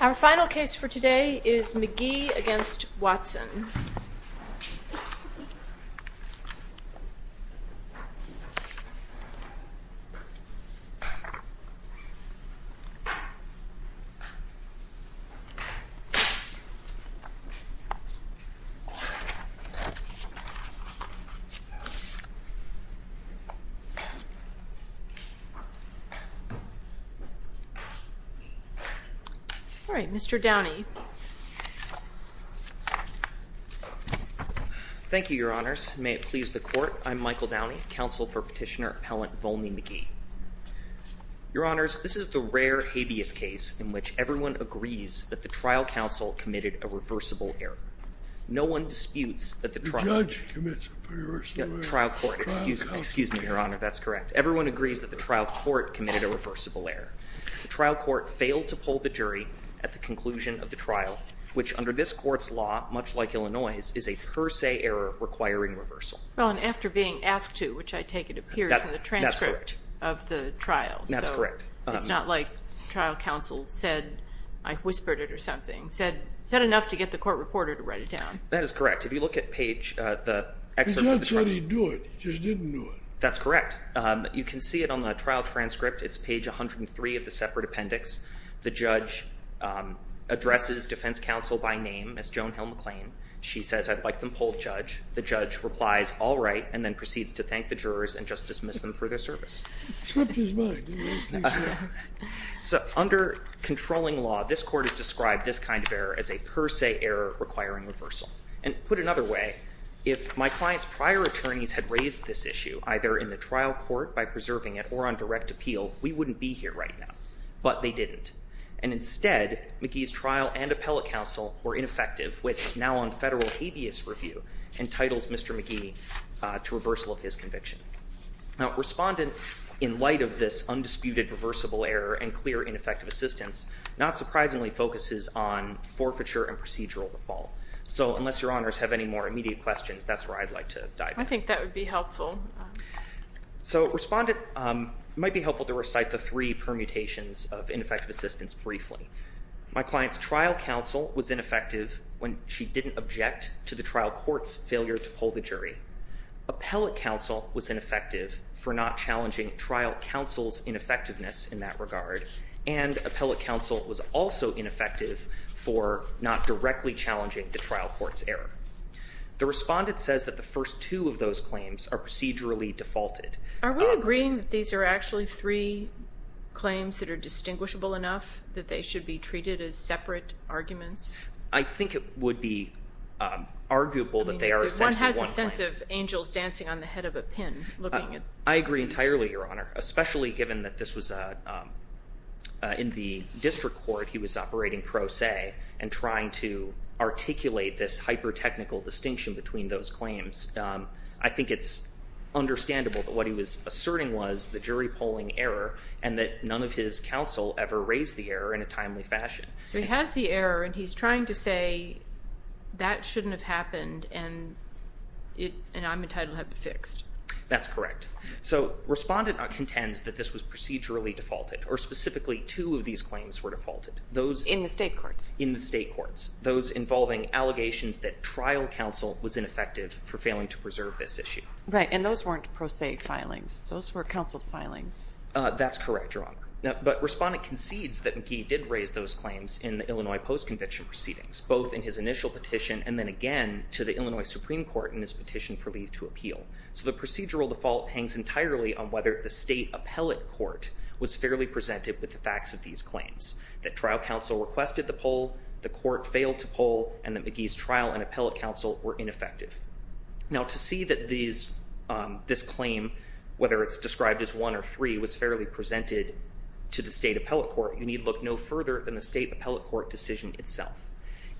Our final case for today is McGhee v. Watson Thank you, Your Honors. May it please the Court, I'm Michael Downey, counsel for Petitioner Appellant Volney McGhee. Your Honors, this is the rare habeas case in which everyone agrees that the trial counsel committed a reversible error. No one disputes that the trial court failed to pull the jury at the conclusion of the trial, which under this court's law, much like Illinois', is a per se error requiring reversal. Well, and after being asked to, which I take it appears in the transcript of the trial. That's correct. It's not like trial counsel said, I whispered it or something, said enough to get the court reporter to write it down. That is correct. If you look at page, the excerpt of the trial. He didn't say he'd do it, he just didn't do it. That's correct. You can see it on the trial transcript. It's page 103 of the separate appendix. The judge addresses defense counsel by name as Joan Hill McClain. She says, I'd like them to pull the judge. The judge replies, all right, and then proceeds to thank the jurors and just dismiss them for their service. So under controlling law, this court has described this kind of error as a per se error requiring reversal. And put another way, if my client's prior attorneys had raised this issue, either in the trial court by preserving it or on direct appeal, we wouldn't be here right now. But they didn't. And instead, McGee's trial and appellate counsel were ineffective, which now on federal habeas review, entitles Mr. McGee to reversal of his conviction. Now, respondent, in light of this undisputed reversible error and clear ineffective assistance, not surprisingly focuses on forfeiture and procedural default. So unless your honors have any more immediate questions, that's where I'd like to dive in. I think that would be helpful. So respondent, it might be helpful to recite the three permutations of ineffective assistance briefly. My client's trial counsel was ineffective when she didn't object to the trial court's failure to pull the jury. Appellate counsel was ineffective for not challenging trial counsel's ineffectiveness in that regard. And appellate counsel was also ineffective for not directly challenging the trial court's error. The respondent says that the first two of those claims are procedurally defaulted. Are we agreeing that these are actually three claims that are distinguishable enough that they should be treated as separate arguments? I think it would be arguable that they are essentially one claim. One has a sense of angels dancing on the head of a pin looking at these. I agree entirely, Your Honor, especially given that this was in the district court. He was operating pro se and trying to articulate this hyper-technical distinction between those claims. I think it's understandable that what he was asserting was the jury polling error and that none of his counsel ever raised the error in a timely fashion. So he has the error and he's trying to say that shouldn't have happened and I'm entitled to have it fixed. That's correct. So respondent contends that this was procedurally defaulted or specifically two of these claims were defaulted. In the state courts? In the state courts. Those involving allegations that trial counsel was ineffective for failing to preserve this issue. And those weren't pro se filings. Those were counseled filings. That's correct, Your Honor. But respondent concedes that McGee did raise those claims in the Illinois post-conviction proceedings, both in his initial petition and then again to the Illinois Supreme Court in his petition for leave to appeal. So the procedural default hangs entirely on whether the state appellate court was fairly presented with the facts of these claims. That trial counsel requested the poll, the court failed to poll, and that McGee's trial and appellate counsel were ineffective. Now to see that this claim, whether it's described as one or three, was fairly presented to the state appellate court, you need look no further than the state appellate court decision itself.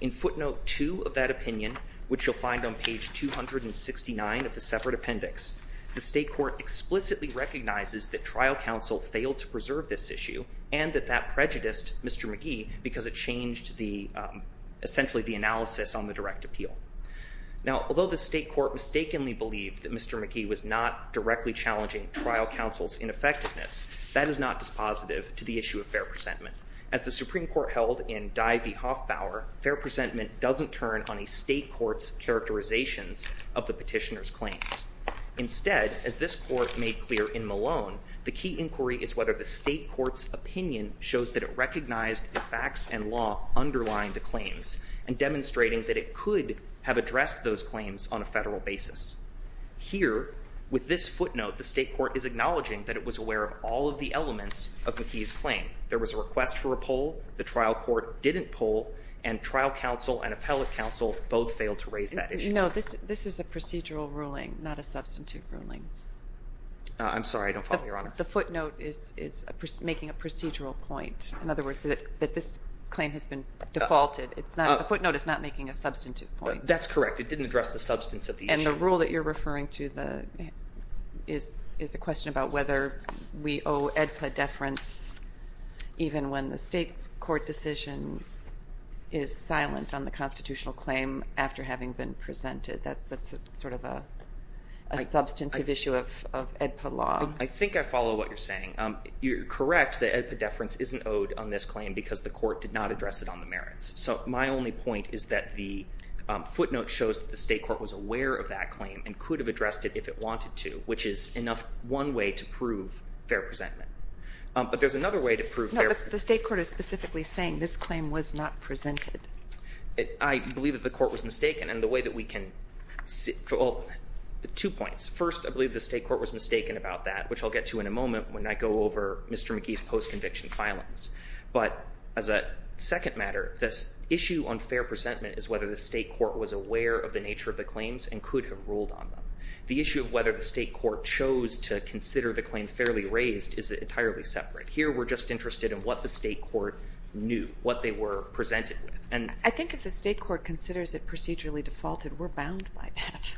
In footnote two of that opinion, which you'll find on page 269 of the separate appendix, the state court explicitly recognizes that trial counsel failed to preserve this issue and that that prejudiced Mr. McGee because it changed the, essentially the analysis on the direct appeal. Now, although the state court mistakenly believed that Mr. McGee was not directly challenging trial counsel's ineffectiveness, that is not dispositive to the issue of fair presentment. As the Supreme Court held in Dye v. Hoffbauer, fair presentment doesn't turn on a state court's characterizations of the petitioner's claims. Instead, as this court made clear in Malone, the key inquiry is whether the state court's opinion shows that it recognized the facts and law underlying the claims and demonstrating that it could have addressed those claims on a federal basis. Here, with this footnote, the state court is acknowledging that it was aware of all of the elements of McGee's claim. There was a request for a poll. The trial court didn't poll, and trial counsel and appellate counsel both failed to raise that issue. No, this is a procedural ruling, not a substantive ruling. I'm sorry. I don't follow, Your Honor. The footnote is making a procedural point. In other words, that this claim has been defaulted. The footnote is not making a substantive point. That's correct. It didn't address the substance of the issue. And the rule that you're referring to is a question about whether we owe AEDPA deference even when the state court decision is silent on the constitutional claim after having been presented. That's sort of a substantive issue of AEDPA law. I think I follow what you're saying. You're correct that AEDPA deference isn't owed on this claim because the court did not address it on the merits. So my only point is that the footnote shows that the state court was aware of that claim and could have addressed it if it wanted to, which is one way to prove fair presentment. But there's another way to prove fair— No, the state court is specifically saying this claim was not presented. I believe that the court was mistaken. And the way that we can—two points. First, I believe the state court was mistaken about that, which I'll get to in a moment when I go over Mr. McGee's post-conviction filings. But as a second matter, this issue on fair presentment is whether the state court was aware of the nature of the claims and could have ruled on them. The issue of whether the state court chose to consider the claim fairly raised is entirely separate. Here, we're just interested in what the state court knew, what they were presented with. I think if the state court considers it procedurally defaulted, we're bound by that.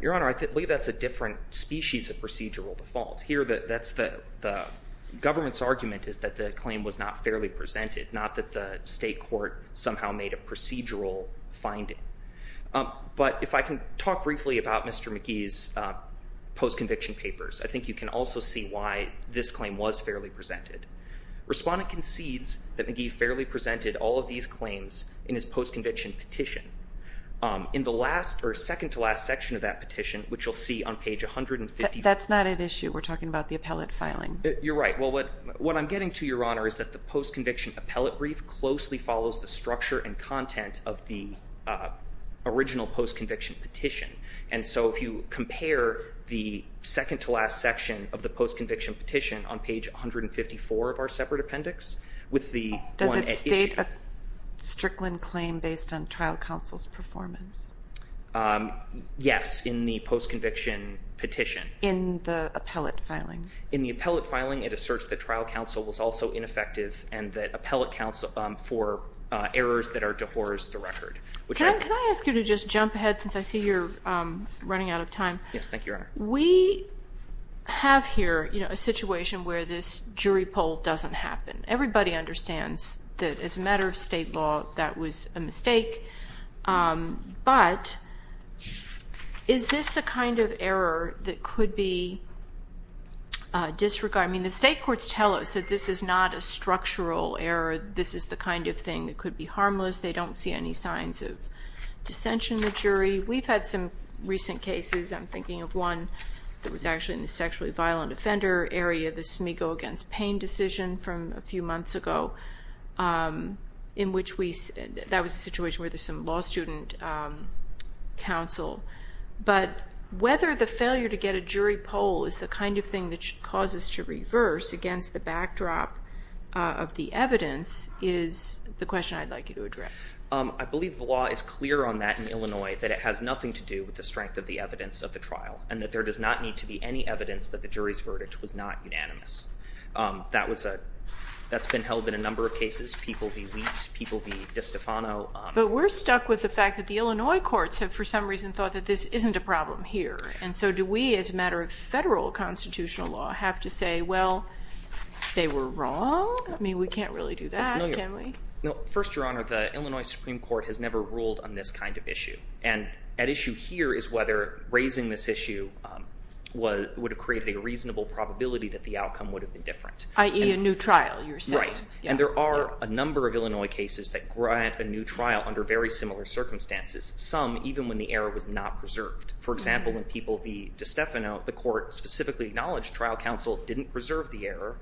Your Honor, I believe that's a different species of procedural default. Here, the government's argument is that the claim was not fairly presented, not that the state court somehow made a procedural finding. But if I can talk briefly about Mr. McGee's post-conviction papers, I think you can also see why this claim was fairly presented. Respondent concedes that McGee fairly presented all of these claims in his post-conviction petition. In the last—or second-to-last section of that petition, which you'll see on page 150— That's not at issue. We're talking about the appellate filing. You're right. Well, what I'm getting to, Your Honor, is that the post-conviction appellate brief closely follows the structure and content of the original post-conviction petition. And so, if you compare the second-to-last section of the post-conviction petition on page 154 of our separate appendix with the one at issue— Does it state a Strickland claim based on trial counsel's performance? Yes, in the post-conviction petition. In the appellate filing? In the appellate filing, it asserts that trial counsel was also ineffective and that appellate accounts for errors that are dehors the record. Can I ask you to just jump ahead, since I see you're running out of time? Yes, thank you, Your Honor. We have here a situation where this jury poll doesn't happen. Everybody understands that as a matter of state law, that was a mistake. But is this the kind of error that could be disregarded? I mean, the state courts tell us that this is not a structural error. This is the kind of thing that could be harmless. They don't see any signs of dissension in the jury. We've had some recent cases. I'm thinking of one that was actually in the sexually violent offender area, the Smego against Payne decision from a few months ago in which we— that was a situation where there's some law student counsel. But whether the failure to get a jury poll is the kind of thing that causes to reverse against the backdrop of the evidence is the question I'd like you to address. I believe the law is clear on that in Illinois, that it has nothing to do with the strength of the evidence of the trial and that there does not need to be any evidence that the jury's verdict was not unanimous. That's been held in a number of cases, people v. Wheat, people v. DiStefano. But we're stuck with the fact that the Illinois courts have, for some reason, thought that this isn't a problem here. And so do we, as a matter of federal constitutional law, have to say, well, they were wrong? I mean, we can't really do that, can we? First, Your Honor, the Illinois Supreme Court has never ruled on this kind of issue. And at issue here is whether raising this issue would have created a reasonable probability that the outcome would have been different. I.e. a new trial, you're saying. That's right. And there are a number of Illinois cases that grant a new trial under very similar circumstances, some even when the error was not preserved. For example, in people v. DiStefano, the court specifically acknowledged trial counsel didn't preserve the error,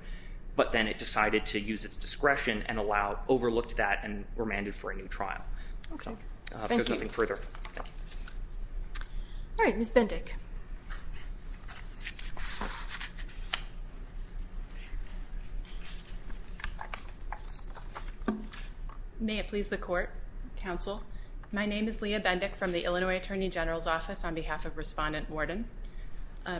but then it decided to use its discretion and overlooked that and remanded for a new trial. Okay. Thank you. There's nothing further. All right. Ms. Bendick. May it please the court, counsel. My name is Leah Bendick from the Illinois Attorney General's Office on behalf of Respondent Worden.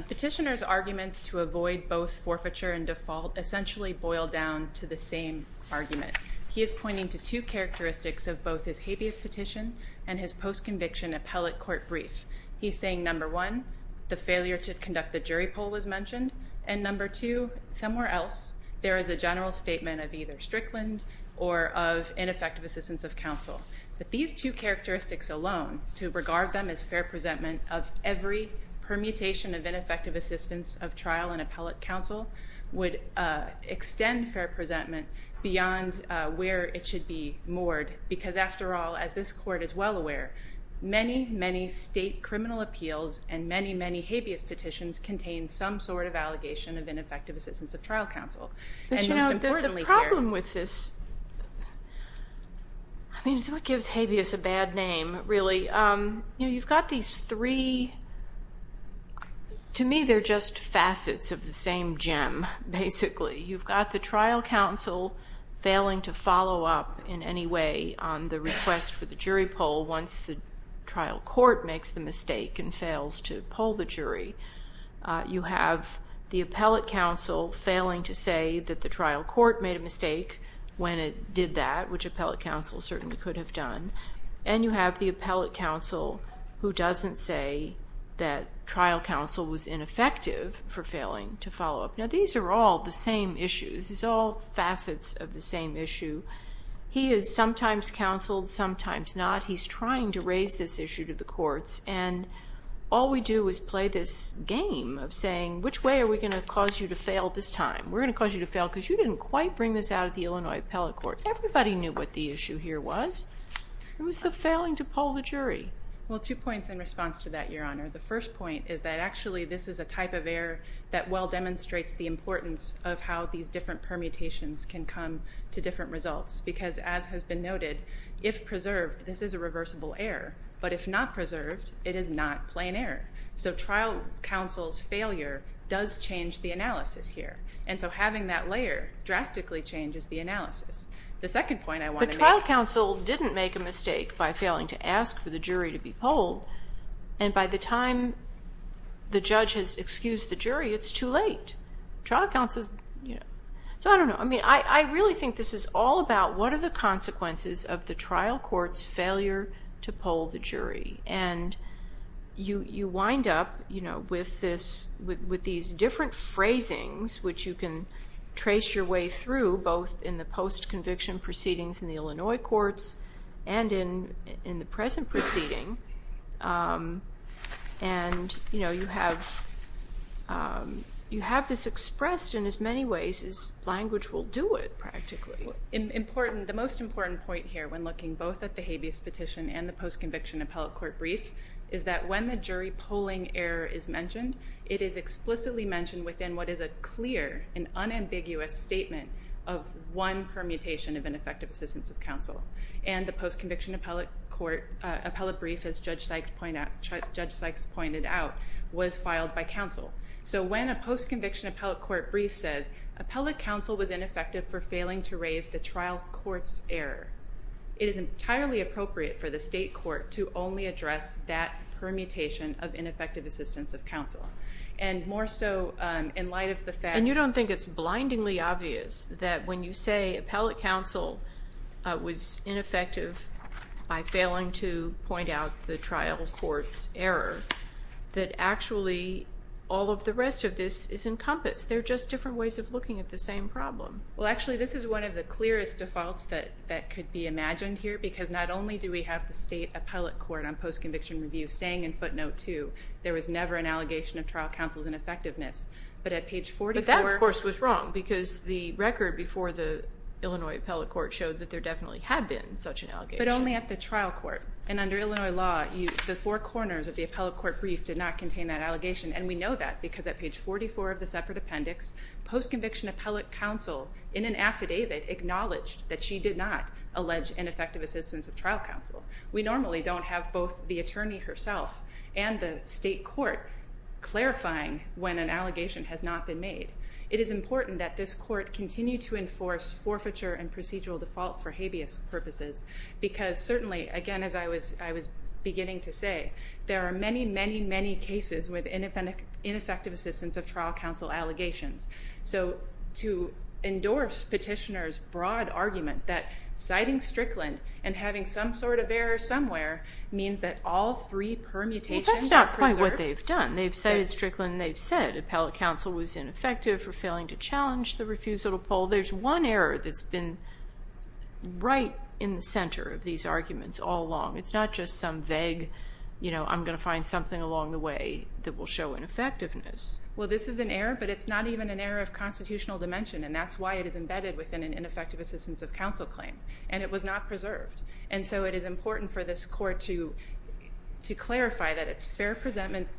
Petitioner's arguments to avoid both forfeiture and default essentially boil down to the same argument. He is pointing to two characteristics of both his habeas petition and his post-conviction appellate court brief. He's saying, number one, the failure to conduct the jury poll was mentioned, and number two, somewhere else there is a general statement of either Strickland or of ineffective assistance of counsel. But these two characteristics alone, to regard them as fair presentment of every permutation of ineffective assistance of trial and appellate counsel, would extend fair presentment beyond where it should be moored because, after all, as this court is well aware, many, many state criminal appeals and many, many habeas petitions contain some sort of allegation of ineffective assistance of trial counsel. But, you know, the problem with this, I mean, it's what gives habeas a bad name, really. You know, you've got these three. To me, they're just facets of the same gem, basically. You've got the trial counsel failing to follow up in any way on the request for the jury poll once the trial court makes the mistake and fails to poll the jury. You have the appellate counsel failing to say that the trial court made a mistake when it did that, which appellate counsel certainly could have done. And you have the appellate counsel who doesn't say that trial counsel was ineffective for failing to follow up. Now, these are all the same issues. These are all facets of the same issue. He is sometimes counseled, sometimes not. He's trying to raise this issue to the courts. And all we do is play this game of saying, which way are we going to cause you to fail this time? We're going to cause you to fail because you didn't quite bring this out at the Illinois Appellate Court. Everybody knew what the issue here was. It was the failing to poll the jury. Well, two points in response to that, Your Honor. The first point is that actually this is a type of error that well demonstrates the importance of how these different permutations can come to different results because, as has been noted, if preserved, this is a reversible error. But if not preserved, it is not plain error. So trial counsel's failure does change the analysis here. And so having that layer drastically changes the analysis. The second point I want to make. But trial counsel didn't make a mistake by failing to ask for the jury to be polled. And by the time the judge has excused the jury, it's too late. Trial counsel's, you know. So I don't know. I mean, I really think this is all about what are the consequences of the trial court's failure to poll the jury. And you wind up, you know, with these different phrasings, which you can trace your way through both in the post-conviction proceedings in the Illinois courts and in the present proceeding. And, you know, you have this expressed in as many ways as language will do it practically. The most important point here when looking both at the habeas petition and the post-conviction appellate court brief is that when the jury polling error is mentioned, it is explicitly mentioned within what is a clear and unambiguous statement of one permutation of ineffective assistance of counsel. And the post-conviction appellate court brief, as Judge Sykes pointed out, was filed by counsel. So when a post-conviction appellate court brief says, appellate counsel was ineffective for failing to raise the trial court's error, it is entirely appropriate for the state court to only address that permutation of ineffective assistance of counsel. And more so in light of the fact. And you don't think it's blindingly obvious that when you say appellate counsel was ineffective by failing to point out the trial court's error, that actually all of the rest of this is encompassed. They're just different ways of looking at the same problem. Well, actually, this is one of the clearest defaults that could be imagined here because not only do we have the state appellate court on post-conviction review saying in footnote 2, there was never an allegation of trial counsel's ineffectiveness. But at page 44. But that, of course, was wrong because the record before the Illinois appellate court showed that there definitely had been such an allegation. But only at the trial court. And under Illinois law, the four corners of the appellate court brief did not contain that allegation. And we know that because at page 44 of the separate appendix, post-conviction appellate counsel in an affidavit acknowledged that she did not allege ineffective assistance of trial counsel. We normally don't have both the attorney herself and the state court clarifying when an allegation has not been made. It is important that this court continue to enforce forfeiture and procedural default for habeas purposes because certainly, again, as I was beginning to say, there are many, many, many cases with ineffective assistance of trial counsel allegations. So to endorse petitioner's broad argument that citing Strickland and having some sort of error somewhere means that all three permutations are preserved. That's what they've done. They've cited Strickland and they've said appellate counsel was ineffective for failing to challenge the refusal to poll. There's one error that's been right in the center of these arguments all along. It's not just some vague, you know, I'm going to find something along the way that will show ineffectiveness. Well, this is an error, but it's not even an error of constitutional dimension, and that's why it is embedded within an ineffective assistance of counsel claim. And it was not preserved. And so it is important for this court to clarify that it's fair precedent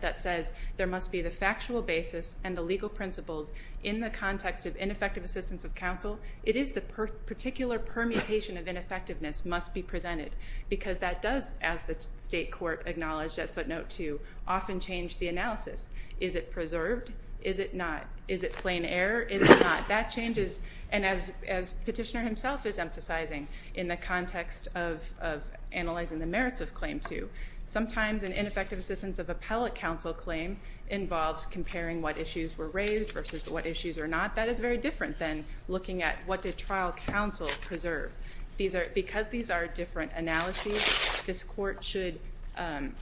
that says there must be the factual basis and the legal principles in the context of ineffective assistance of counsel. It is the particular permutation of ineffectiveness must be presented because that does, as the state court acknowledged at footnote 2, often change the analysis. Is it preserved? Is it not? Is it plain error? Is it not? That changes, and as petitioner himself is emphasizing in the context of analyzing the merits of claim 2, sometimes an ineffective assistance of appellate counsel claim involves comparing what issues were raised versus what issues are not. That is very different than looking at what did trial counsel preserve. Because these are different analyses, this court should,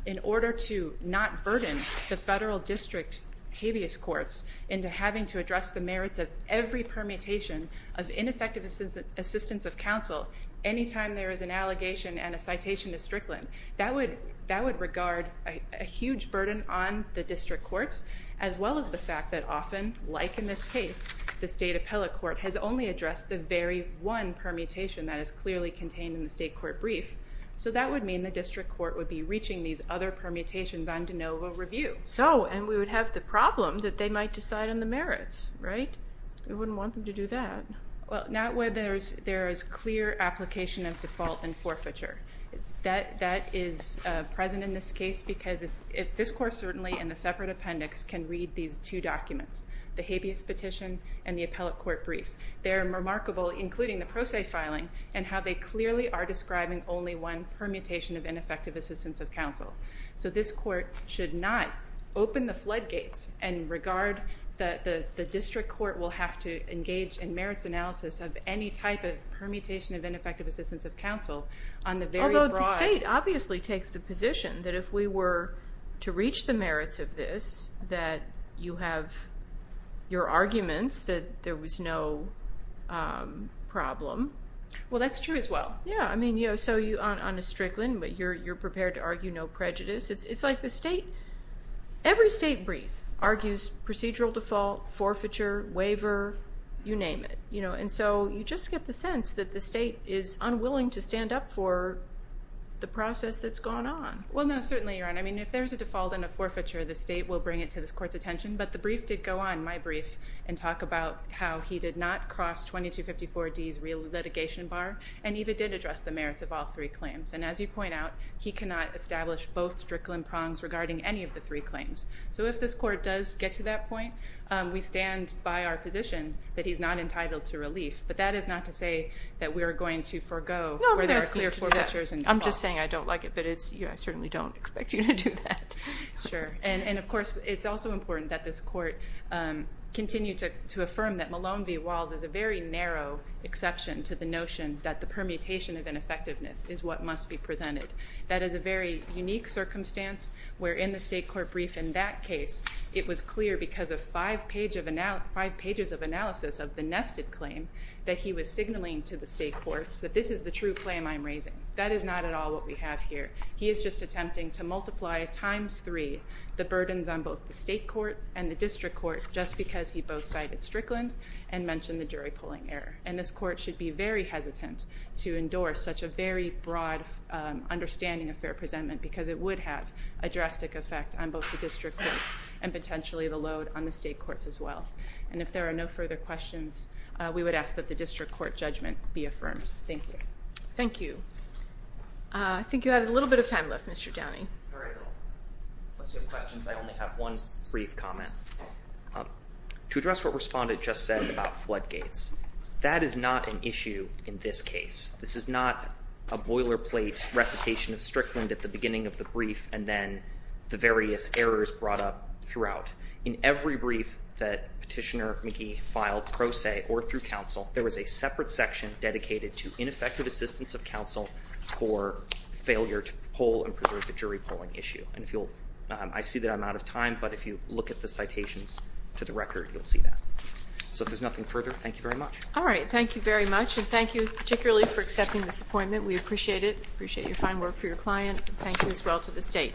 in order to not burden the federal district habeas courts into having to address the merits of every permutation of ineffective assistance of counsel any time there is an allegation and a citation is strickland. That would regard a huge burden on the district courts, as well as the fact that often, like in this case, the state appellate court has only addressed the very one permutation that is clearly contained in the state court brief. So that would mean the district court would be reaching these other permutations on de novo review. Okay, so, and we would have the problem that they might decide on the merits, right? We wouldn't want them to do that. Well, not where there is clear application of default and forfeiture. That is present in this case because if this court certainly in the separate appendix can read these two documents, the habeas petition and the appellate court brief, they're remarkable, including the pro se filing, and how they clearly are describing only one permutation of ineffective assistance of counsel. So this court should not open the floodgates and regard the district court will have to engage in merits analysis of any type of permutation of ineffective assistance of counsel on the very broad... Although the state obviously takes the position that if we were to reach the merits of this, that you have your arguments that there was no problem. Well, that's true as well. Yeah, I mean, so you aren't on a strickland, but you're prepared to argue no prejudice. It's like the state, every state brief argues procedural default, forfeiture, waiver, you name it. And so you just get the sense that the state is unwilling to stand up for the process that's going on. Well, no, certainly, Your Honor. I mean, if there's a default and a forfeiture, the state will bring it to this court's attention. But the brief did go on, my brief, and talk about how he did not cross 2254D's real litigation bar and even did address the merits of all three claims. And as you point out, he cannot establish both strickland prongs regarding any of the three claims. So if this court does get to that point, we stand by our position that he's not entitled to relief. But that is not to say that we are going to forego where there are clear forfeitures and defaults. I'm just saying I don't like it, but I certainly don't expect you to do that. Sure. And, of course, it's also important that this court continue to affirm that Malone v. Walls is a very narrow exception to the notion that the permutation of ineffectiveness is what must be presented. That is a very unique circumstance where, in the state court brief in that case, it was clear because of five pages of analysis of the nested claim that he was signaling to the state courts that this is the true claim I'm raising. That is not at all what we have here. He is just attempting to multiply times three the burdens on both the state court and the district court just because he both cited Strickland and mentioned the jury polling error. And this court should be very hesitant to endorse such a very broad understanding of fair presentment because it would have a drastic effect on both the district courts and potentially the load on the state courts as well. And if there are no further questions, we would ask that the district court judgment be affirmed. Thank you. Thank you. I think you had a little bit of time left, Mr. Downey. All right. Unless you have questions, I only have one brief comment. To address what Respondent just said about floodgates, that is not an issue in this case. This is not a boilerplate recitation of Strickland at the beginning of the brief and then the various errors brought up throughout. In every brief that Petitioner McGee filed pro se or through counsel, there was a separate section dedicated to ineffective assistance of counsel for failure to poll and preserve the jury polling issue. And I see that I'm out of time, but if you look at the citations to the record, you'll see that. So if there's nothing further, thank you very much. All right. Thank you very much, and thank you particularly for accepting this appointment. We appreciate it. Appreciate your fine work for your client. Thank you as well to the state.